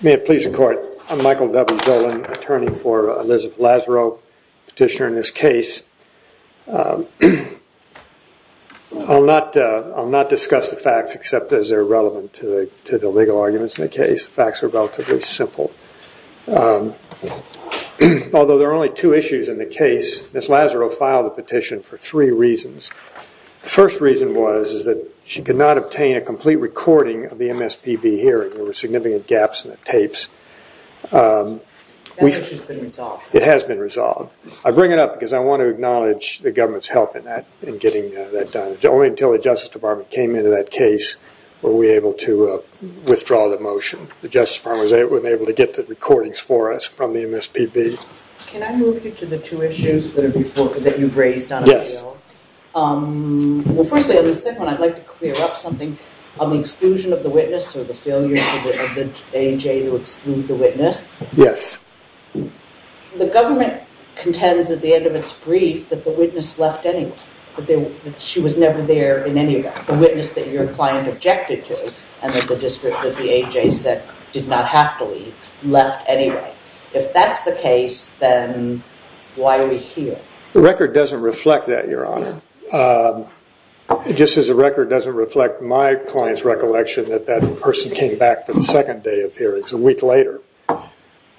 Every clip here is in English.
May it please the court, I'm Michael W. Dolan, attorney for Elizabeth Lazaro, petitioner in this case. I'll not discuss the facts except as they're relevant to the legal arguments in the case. The facts are relatively simple. Although there are only two issues in the case, Ms. Lazaro filed the petition for three reasons. The first reason was that she could not obtain a complete recording of the MSPB hearing. There were significant gaps in the tapes. It has been resolved. I bring it up because I want to acknowledge the government's help in getting that done. Only until the Justice Department came into that case were we able to withdraw the motion. The Justice Department was able to get the recordings for us from the MSPB. Can I move you to the two issues that you've raised on appeal? Yes. Well firstly on the second one I'd like to clear up something on the exclusion of the witness or the failure of the AJ to exclude the witness. Yes. The government contends at the end of its brief that the witness left anyway. That she was never there in any way. The witness that your client objected to and that the district that the AJ said did not have to leave left anyway. If that's the case then why are we here? The record doesn't reflect that, your honor. Just as the record doesn't reflect my client's recollection that that person came back for the second day of hearings a week later.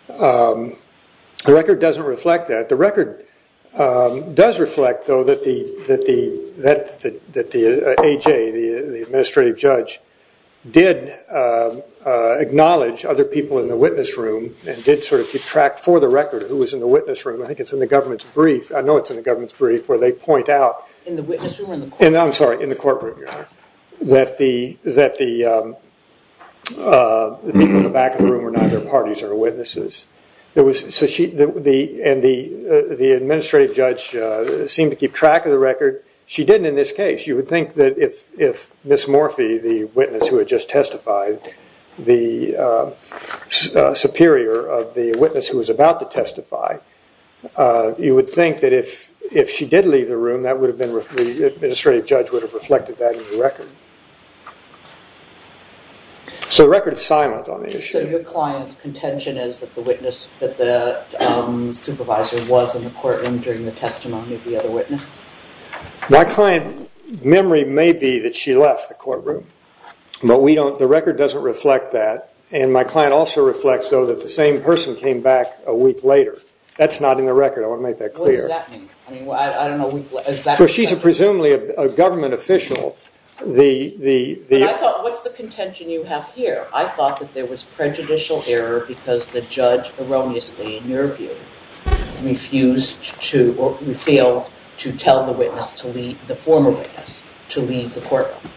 The record doesn't reflect that. The record does reflect though that the AJ, the administrative judge, did acknowledge other people in the witness room and did sort of keep track for the record who was in the witness room. I think it's in the government's brief. I know it's in the government's brief where they point out. In the witness room? I'm sorry, in the court room, your honor. That the people in the back of the room were neither parties or witnesses. And the administrative judge seemed to keep track of the record. She didn't in this case. You would think that if Ms. Morphy, the witness who had just testified, the superior of the witness who was about to testify, you would think that if she did leave the room, the administrative judge would have reflected that in the record. So the record is silent on the issue. So your client's contention is that the supervisor was in the court room during the testimony of the other witness? My client's memory may be that she left the court room. But we don't, the record doesn't reflect that. And my client also reflects though that the same person came back a week later. That's not in the record. I want to make that clear. What does that mean? I don't know. She's presumably a government official. I thought, what's the contention you have here? I thought that there was prejudicial error because the judge erroneously, in your view, refused to, or failed to tell the witness to leave, the former witness, to leave the court room.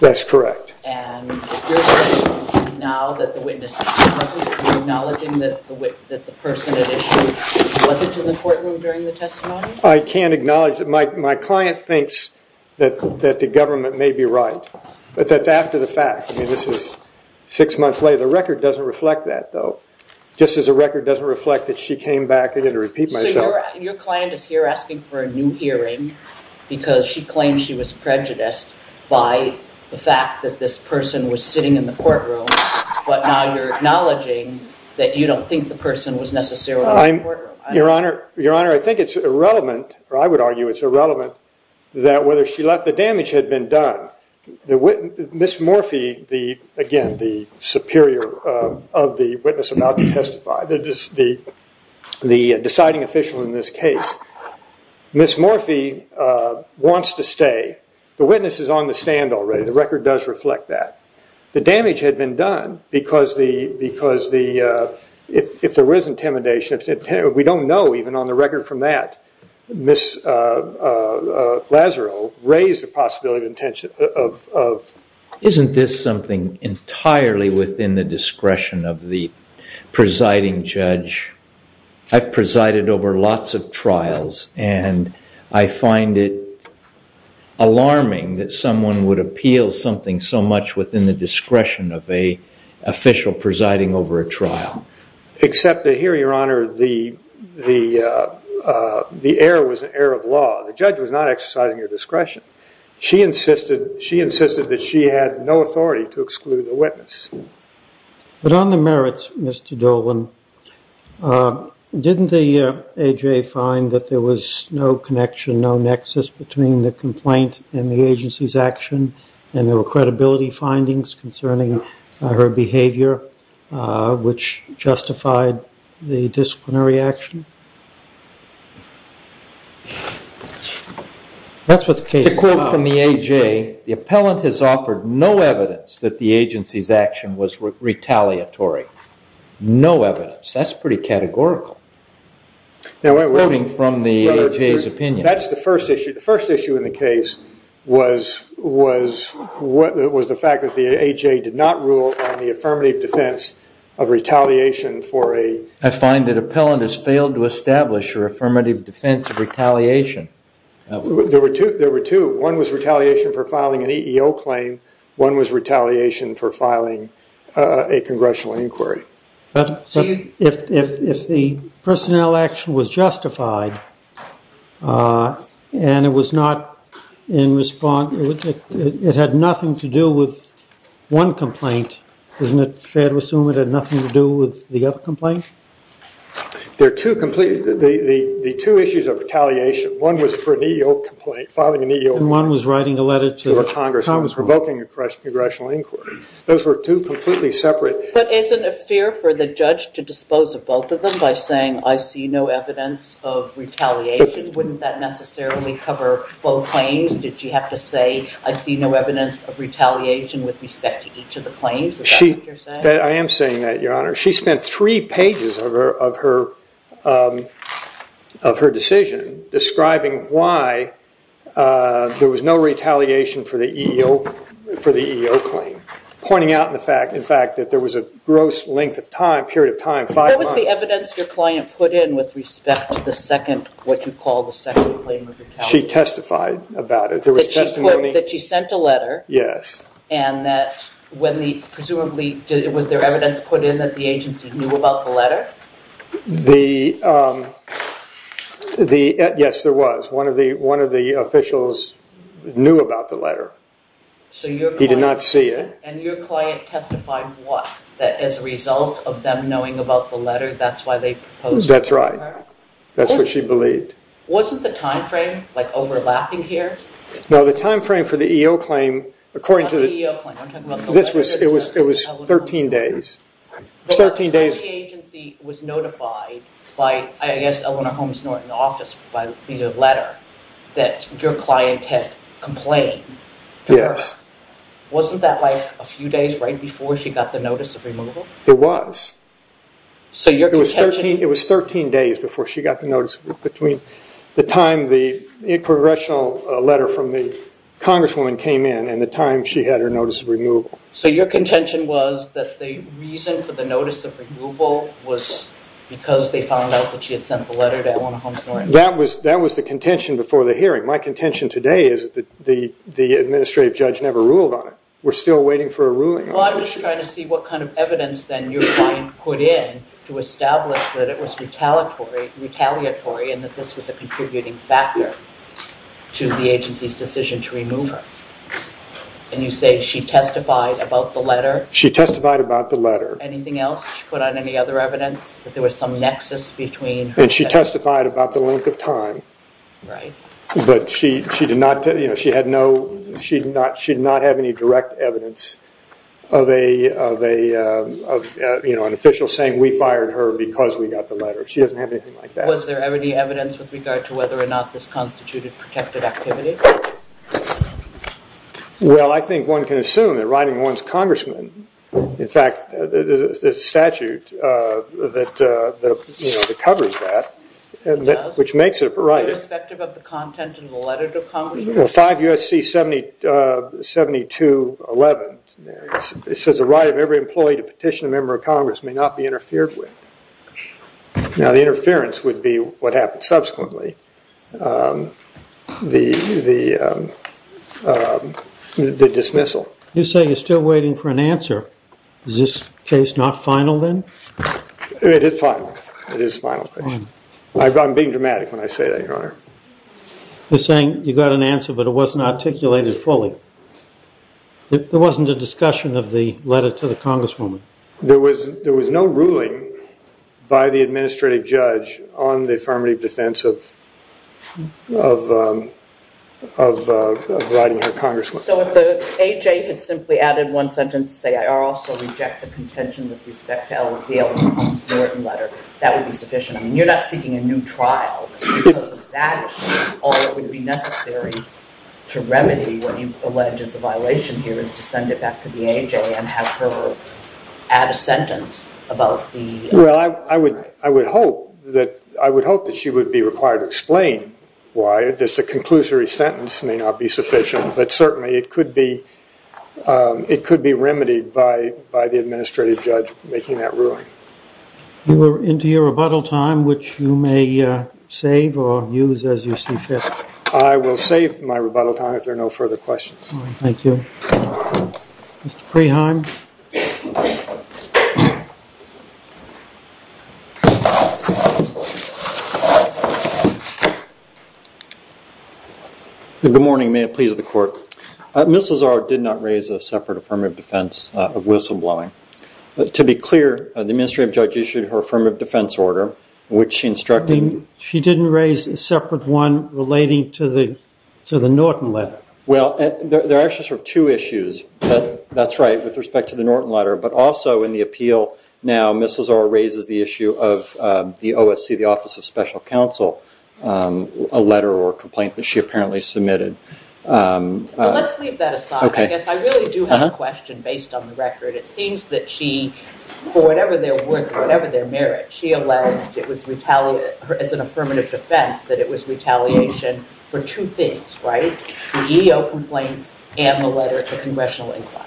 That's correct. And you're saying now that the witness is present, you're acknowledging that the person at issue wasn't in the court room during the testimony? I can't acknowledge that. My client thinks that the government may be right. But that's after the fact. I mean, this is six months later. The record doesn't reflect that though. Just as the record doesn't reflect that she came back, I'm going to repeat myself. So your client is here asking for a new hearing because she claims she was prejudiced by the fact that this person was sitting in the court room. But now you're acknowledging that you don't think the person was necessarily in the court room. Your Honor, I think it's irrelevant, or I would argue it's irrelevant, that whether she left, the damage had been done. Ms. Morphy, again, the superior of the witness about to the deciding official in this case, Ms. Morphy wants to stay. The witness is on the stand already. The record does reflect that. The damage had been done because if there was intimidation, we don't know even on the record from that, Ms. Lazaro raised the possibility of intention of... Isn't this something entirely within the discretion of the presiding judge I've presided over lots of trials and I find it alarming that someone would appeal something so much within the discretion of an official presiding over a trial. Except that here, Your Honor, the error was an error of law. The judge was not exercising her discretion. She insisted that she had no authority to exclude the witness. But on the merits, Mr. Dolan, didn't the AJ find that there was no connection, no nexus between the complaint and the agency's action and there were credibility findings concerning her behavior which justified the disciplinary action? That's what the case is about. To quote from the AJ, the appellant has offered no evidence that the agency's action was retaliatory. No evidence. That's pretty categorical. Quoting from the AJ's opinion. That's the first issue. The first issue in the case was the fact that the AJ did not rule on the affirmative defense of retaliation for a... I find that appellant has failed to establish her affirmative defense of retaliation. There were two. One was retaliation for filing an EEO claim. One was retaliation for filing a congressional inquiry. But if the personnel action was justified and it was not in response... it had nothing to do with one complaint, isn't it fair to assume it had nothing to do with the other complaint? There are two complete... the two issues of retaliation. One was for an EEO complaint, filing an EEO complaint. One was writing a letter to a congressman. Provoking a congressional inquiry. Those were two completely separate... But isn't it fair for the judge to dispose of both of them by saying, I see no evidence of retaliation? Wouldn't that necessarily cover both claims? Did she have to say, I see no evidence of retaliation with respect to each of the claims? Is that what you're saying? I am saying that, Your Honor. She spent three pages of her decision describing why there was no retaliation for the EEO claim. Pointing out the fact, in fact, that there was a gross length of time, period of time, five months... What was the evidence your client put in with respect to the second, what you call the second claim of retaliation? She testified about it. There was testimony... That she sent a letter. Yes. And that when the, presumably, was there evidence put in that the agency knew about the letter? The... yes, there was. One of the officials knew about the letter. He did not see it. And your client testified what? That as a result of them knowing about the letter, that's why they proposed... That's right. That's what she believed. Wasn't the time frame, like, overlapping here? No, the time frame for the EEO claim, according to the... Not the EEO claim. I'm talking about the letter. It was 13 days. The agency was notified by, I guess, Eleanor Holmes-Norton that her client had complained. Yes. Wasn't that, like, a few days right before she got the notice of removal? It was. So your contention... It was 13 days before she got the notice, between the time the congressional letter from the congresswoman came in and the time she had her notice of removal. So your contention was that the reason for the notice of removal was because they found out that she had sent the letter to Eleanor Holmes-Norton? That was the contention before the hearing. My contention today is that the administrative judge never ruled on it. We're still waiting for a ruling on it. Well, I'm just trying to see what kind of evidence then your client put in to establish that it was retaliatory and that this was a contributing factor to the agency's decision to remove her. And you say she testified about the letter? She testified about the letter. Anything else she put on any other evidence? That there was some nexus between... And she testified about the length of time. Right. But she did not, you know, she had no, she did not have any direct evidence of an official saying, we fired her because we got the letter. She doesn't have anything like that. Was there any evidence with regard to whether or not this constituted protected activity? Well, I think one can assume that writing one's congressman, in fact, there's a statute that, you know, that covers that, which makes it a right. Irrespective of the content in the letter to Congress? Well, 5 U.S.C. 7211, it says the right of every employee to petition a member of Congress may not be interfered with. Now, the interference would be what happened subsequently, the dismissal. You say you're still waiting for an answer. Is this case not final then? It is final. It is final. I'm being dramatic when I say that, Your Honor. You're saying you got an answer, but it wasn't articulated fully. There wasn't a discussion of the letter to the congresswoman. There was no ruling by the administrative judge on the affirmative defense of writing her congressman. So if the AJ had simply added one sentence to say, I also reject the contention with respect to L. Lee Elmore Holmes Norton's letter, that would be sufficient. I mean, you're not seeking a new trial because of that issue. All that would be necessary to remedy what you allege is a violation here is to send it back to the AJ and have her add a sentence about the... Well, I would hope that she would be required to explain why this conclusory sentence may not be sufficient, but certainly it could be remedied by the administrative judge making that ruling. You are into your rebuttal time, which you may save or use as you see fit. I will save my rebuttal time if there are no further questions. Thank you. Mr. Preheim. Good morning. May it please the court. Mrs. Lazzaro did not raise a separate affirmative defense of whistleblowing. To be clear, the administrative judge issued her affirmative defense order, which she instructed... She didn't raise a separate one relating to the Norton letter. Well, there are actually sort of two issues. That's right, with respect to the Norton letter, but also in the appeal now, Mrs. Lazzaro raises the issue of the OSC, the Office of Special Counsel, a letter or a complaint that she apparently submitted. Let's leave that aside. I guess I really do have a question based on the record. It seems that she, for whatever their worth, whatever their merit, she alleged it was retaliated as an affirmative defense, that it was retaliation for two things, right? The EEO complaints and the letter to Congressional Inquiry.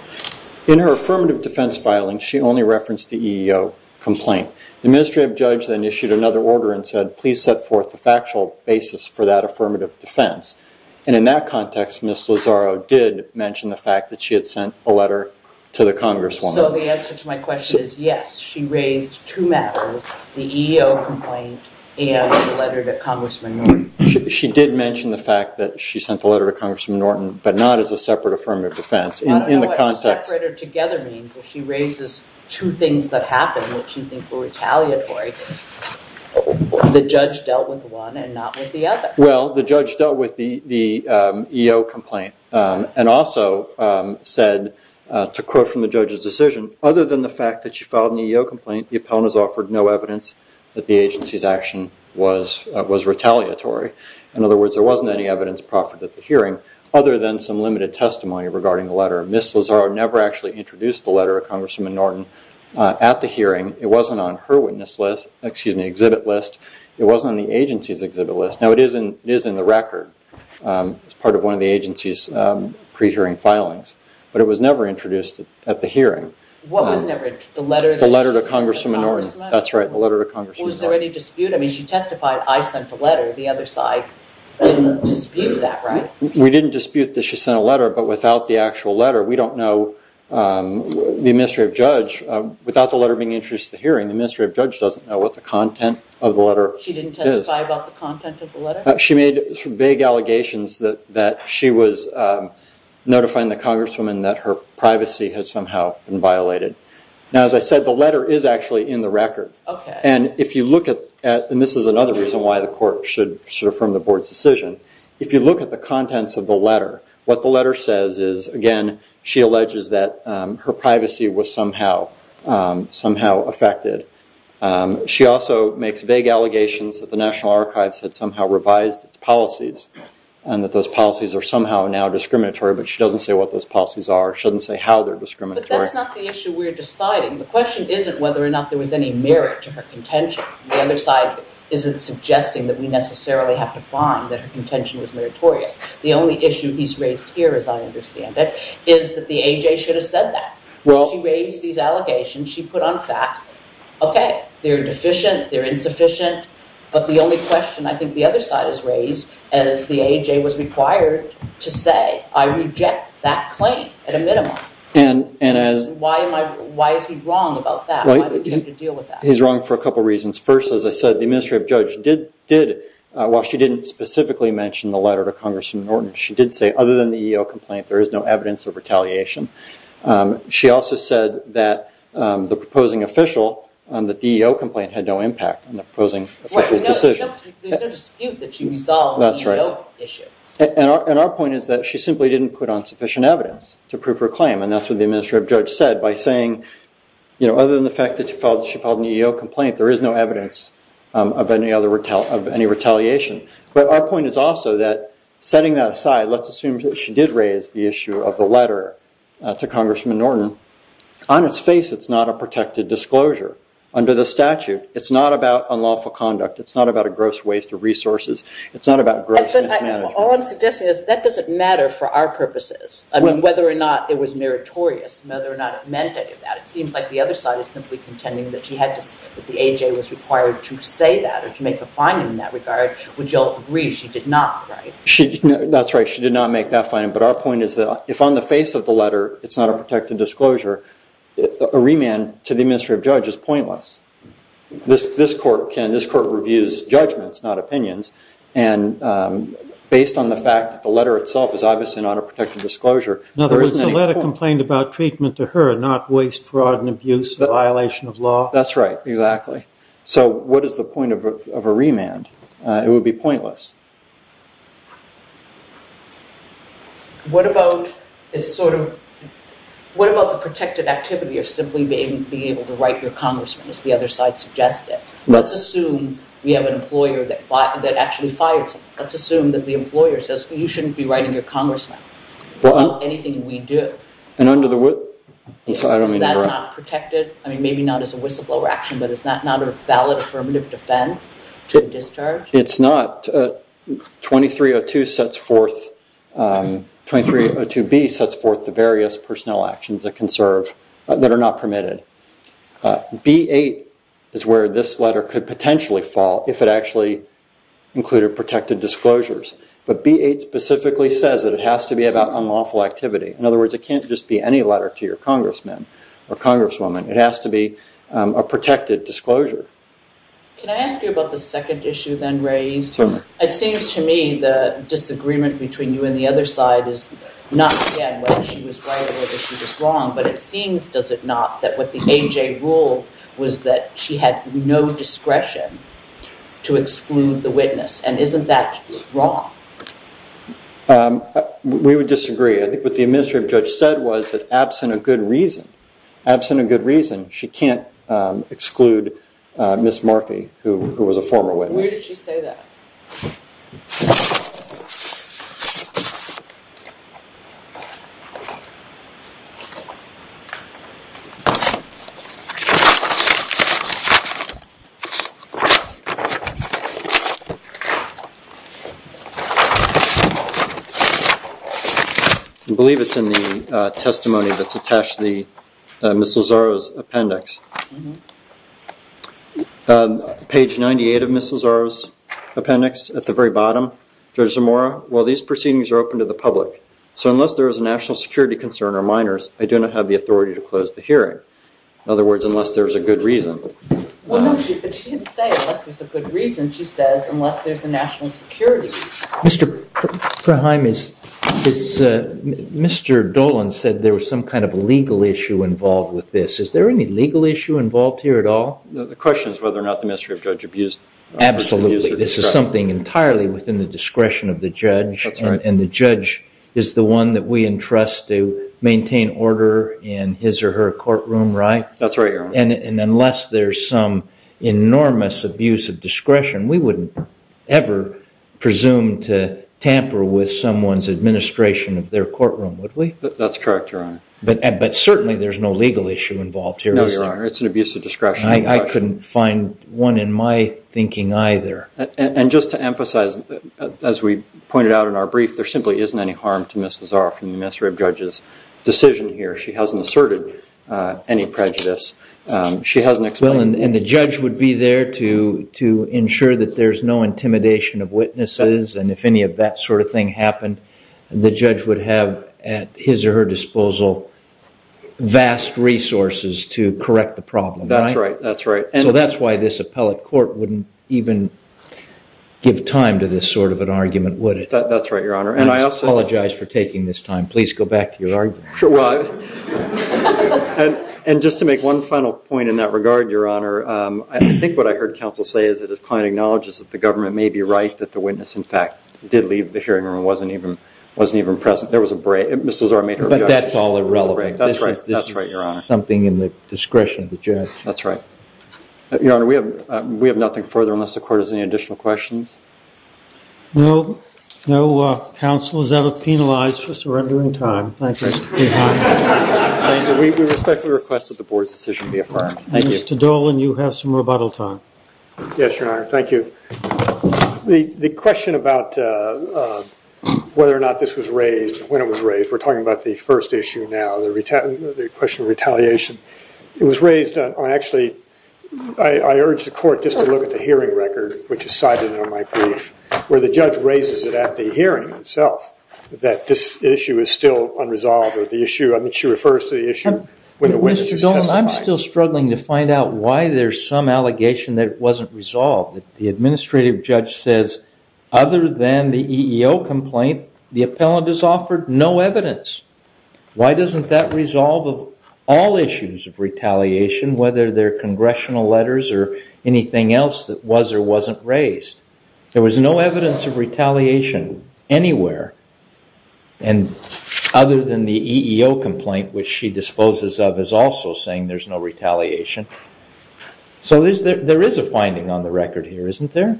In her affirmative defense filing, she only referenced the EEO complaint. The administrative judge then issued another order and said, please set forth the factual basis for that affirmative defense. And in that context, Mrs. Lazzaro did mention the fact that she had sent a letter to the Congresswoman. So the answer to my question is yes. She raised two matters, the EEO complaint and the letter to Congressman Norton. She did mention the fact that she sent the letter to Congressman Norton, but not as a separate affirmative defense in the context. Separated together means if she raises two things that happened that she thinks were retaliatory, the judge dealt with one and not with the other. Well, the judge dealt with the EEO complaint and also said, to quote from the judge's decision, other than the fact that she filed an EEO complaint, the appellant has offered no evidence that the agency's action was retaliatory. In other words, there wasn't any evidence proffered at the hearing other than some limited testimony regarding the letter. Mrs. Lazzaro never actually introduced the letter of Congressman Norton at the hearing. It wasn't on her witness list, excuse me, exhibit list. It wasn't on the agency's exhibit list. Now, it is in the record as part of one of the agency's pre-hearing filings, but it was never introduced at the hearing. What was never introduced? The letter to Congressman Norton? That's right, the letter to Congressman Norton. Was there any dispute? I mean, she testified, I sent the letter. The other side didn't dispute that, right? We didn't dispute that she sent a letter, but without the actual letter, we don't know, the administrative judge, without the letter being introduced at the hearing, the administrative judge doesn't know what the content of the letter is. She didn't testify about the content of the letter? She made vague allegations that she was notifying the Congresswoman that her privacy had somehow been violated. Now, as I said, the letter is actually in the record. And if you look at, and this is another reason why the court should affirm the board's decision, if you look at the contents of the letter, what the letter says is, again, she alleges that her privacy was somehow affected. She also makes vague allegations that the National Archives had somehow revised its policies and that those policies are somehow now discriminatory, but she doesn't say what those policies are, she doesn't say how they're discriminatory. But that's not the issue we're deciding. The question isn't whether or not there was any merit to her contention. The other side isn't suggesting that we necessarily have to find that her contention was meritorious. The only issue he's raised here, as I understand it, is that the A.J. should have said that. She raised these allegations, she put on facts, okay, they're deficient, they're insufficient, but the only question I think the other side has raised, and as the A.J. was required to say, I reject that claim at a minimum. Why is he wrong about that? Why would you have to deal with that? He's wrong for a couple of reasons. First, as I said, the administrative judge did, while she didn't specifically mention the letter to Congressman Norton, she did say other than the EEO complaint, there is no evidence of retaliation. She also said that the proposing official, that the EEO complaint had no impact on the proposing official's decision. There's no dispute that she resolved the EEO issue. And our point is that she simply didn't put on sufficient evidence to prove her claim, and that's what the administrative judge said by saying, other than the fact that she filed an EEO complaint, there is no evidence of any retaliation. But our point is also that, setting that aside, let's assume that she did raise the issue of the letter to Congressman Norton. On its face, it's not a protected disclosure. Under the statute, it's not about unlawful conduct. It's not about a gross waste of resources. It's not about gross mismanagement. All I'm suggesting is that doesn't matter for our purposes, whether or not it was meritorious, whether or not it meant any of that. It seems like the other side is simply contending that the A.J. was required to say that, or to make a finding in that regard, which you'll agree she did not write. That's right. She did not make that finding. But our point is that, if on the face of the letter it's not a protected disclosure, a remand to the administrative judge is pointless. This court reviews judgments, not opinions. And based on the fact that the letter itself is obviously not a protected disclosure, Now, the letter complained about treatment to her, not waste, fraud, and abuse, a violation of law. That's right. Exactly. So what is the point of a remand? It would be pointless. What about the protected activity of simply being able to write your congressman, as the other side suggested? Let's assume we have an employer that actually fires him. Let's assume that the employer says, you shouldn't be writing your congressman about anything we do. And under the whistle? Is that not protected? I mean, maybe not as a whistleblower action, but is that not a valid affirmative defense to a discharge? It's not. 2302B sets forth the various personnel actions that are not permitted. B8 is where this letter could potentially fall, if it actually included protected disclosures. But B8 specifically says that it has to be about unlawful activity. In other words, it can't just be any letter to your congressman or congresswoman. It has to be a protected disclosure. Can I ask you about the second issue then raised? It seems to me the disagreement between you and the other side is not again whether she was right or whether she was wrong, but it seems, does it not, that what the AJ ruled was that she had no discretion to exclude the witness. And isn't that wrong? We would disagree. I think what the administrative judge said was that, absent a good reason, she can't exclude Ms. Murphy, who was a former witness. Where did she say that? I believe it's in the testimony that's attached to Ms. Lazzaro's appendix. Page 98 of Ms. Lazzaro's appendix at the very bottom. Judge Zamora, while these proceedings are open to the public, so unless there is a national security concern or minors, I do not have the authority to close the hearing. In other words, unless there is a good reason. But she didn't say unless there's a good reason. She says unless there's a national security. Mr. Proheim, Mr. Dolan said there was some kind of legal issue involved with this. Is there any legal issue involved here at all? The question is whether or not the administrative judge abused her discretion. Absolutely. This is something entirely within the discretion of the judge. And the judge is the one that we entrust to maintain order in his or her courtroom, right? That's right, Your Honor. And unless there's some enormous abuse of discretion, we wouldn't ever presume to tamper with someone's administration of their courtroom, would we? That's correct, Your Honor. But certainly there's no legal issue involved here, is there? No, Your Honor. It's an abuse of discretion. I couldn't find one in my thinking either. And just to emphasize, as we pointed out in our brief, there simply isn't any harm to Ms. Lazaroff and the administrative judge's decision here. She hasn't asserted any prejudice. She hasn't explained it. And the judge would be there to ensure that there's no intimidation of witnesses. And if any of that sort of thing happened, the judge would have at his or her disposal vast resources to correct the problem, right? That's right. So that's why this appellate court wouldn't even give time to this sort of an argument, would it? That's right, Your Honor. And I apologize for taking this time. Please go back to your argument. And just to make one final point in that regard, Your Honor, I think what I heard counsel say is that his client acknowledges that the government may be right, that the witness, in fact, did leave the hearing room and wasn't even present. There was a break. Ms. Lazaroff made her objection. But that's all irrelevant. That's right, Your Honor. This is something in the discretion of the judge. That's right. Your Honor, we have nothing further unless the court has any additional questions. No. No counsel is ever penalized for surrendering time. Thank you. We respectfully request that the board's decision be affirmed. Mr. Dolan, you have some rebuttal time. Yes, Your Honor. Thank you. The question about whether or not this was raised, when it was raised, we're talking about the first issue now, the question of retaliation. It was raised on, actually, I urge the court just to look at the hearing record, which is cited in my brief, where the judge raises it at the hearing itself, that this issue is still unresolved or the issue, I think she refers to the issue, when the witness is testified. Mr. Dolan, I'm still struggling to find out why there's some allegation that it wasn't resolved. The administrative judge says, other than the EEO complaint, the appellant has offered no evidence. Why doesn't that resolve all issues of retaliation, whether they're congressional letters or anything else that was or wasn't raised? There was no evidence of retaliation anywhere, other than the EEO complaint, which she disposes of as also saying there's no retaliation. So there is a finding on the record here, isn't there?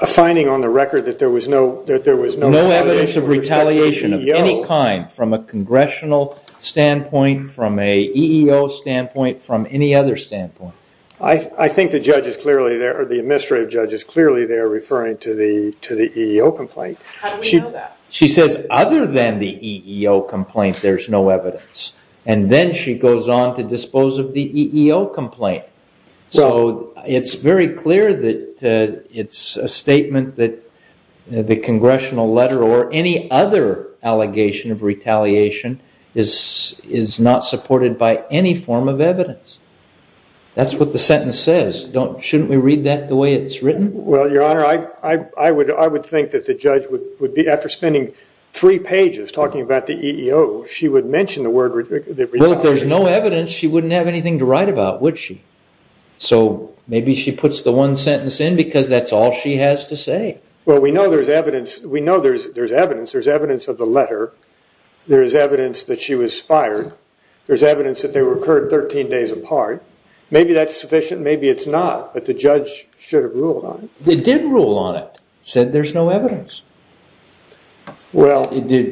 A finding on the record that there was no evidence of retaliation of any kind, from a congressional standpoint, from an EEO standpoint, from any other standpoint. I think the judge is clearly there, or the administrative judge is clearly there, referring to the EEO complaint. How do we know that? She says, other than the EEO complaint, there's no evidence, and then she goes on to dispose of the EEO complaint. So it's very clear that it's a statement that the congressional letter or any other allegation of retaliation is not supported by any form of evidence. That's what the sentence says. Shouldn't we read that the way it's written? Well, Your Honor, I would think that the judge, after spending three pages talking about the EEO, she would mention the word retaliation. Well, if there's no evidence, she wouldn't have anything to write about, would she? So maybe she puts the one sentence in because that's all she has to say. Well, we know there's evidence. We know there's evidence. There's evidence of the letter. There is evidence that she was fired. There's evidence that they were incurred 13 days apart. Maybe that's sufficient. Maybe it's not. But the judge should have ruled on it. It did rule on it. It said there's no evidence. Do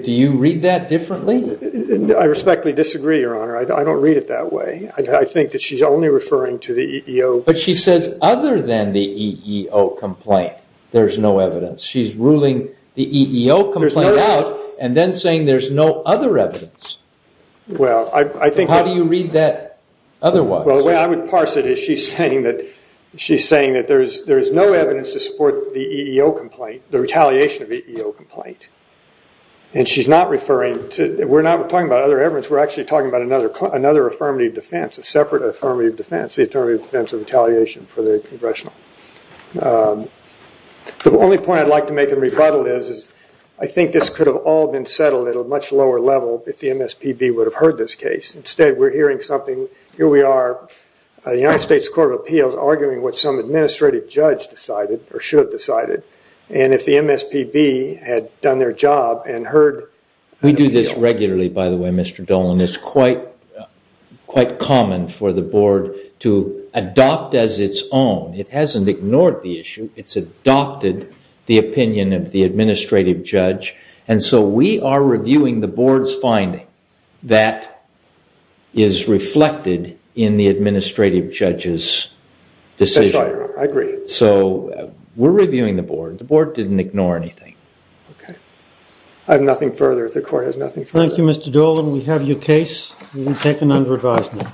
you read that differently? I respectfully disagree, Your Honor. I don't read it that way. I think that she's only referring to the EEO. But she says other than the EEO complaint, there's no evidence. She's ruling the EEO complaint out and then saying there's no other evidence. How do you read that otherwise? Well, the way I would parse it is she's saying that there is no evidence to support the EEO complaint, the retaliation of the EEO complaint. We're not talking about other evidence. We're actually talking about another affirmative defense, a separate affirmative defense, the affirmative defense of retaliation for the congressional. The only point I'd like to make in rebuttal is I think this could have all been settled at a much lower level if the MSPB would have heard this case. Instead, we're hearing something. Here we are, the United States Court of Appeals, arguing what some administrative judge decided or should have decided. If the MSPB had done their job and heard… We do this regularly, by the way, Mr. Dolan. It's quite common for the board to adopt as its own. It hasn't ignored the issue. It's adopted the opinion of the administrative judge. We are reviewing the board's finding that is reflected in the administrative judge's decision. That's right. I agree. We're reviewing the board. The board didn't ignore anything. Okay. I have nothing further. The court has nothing further. Thank you, Mr. Dolan. We have your case. You've been taken under advisement.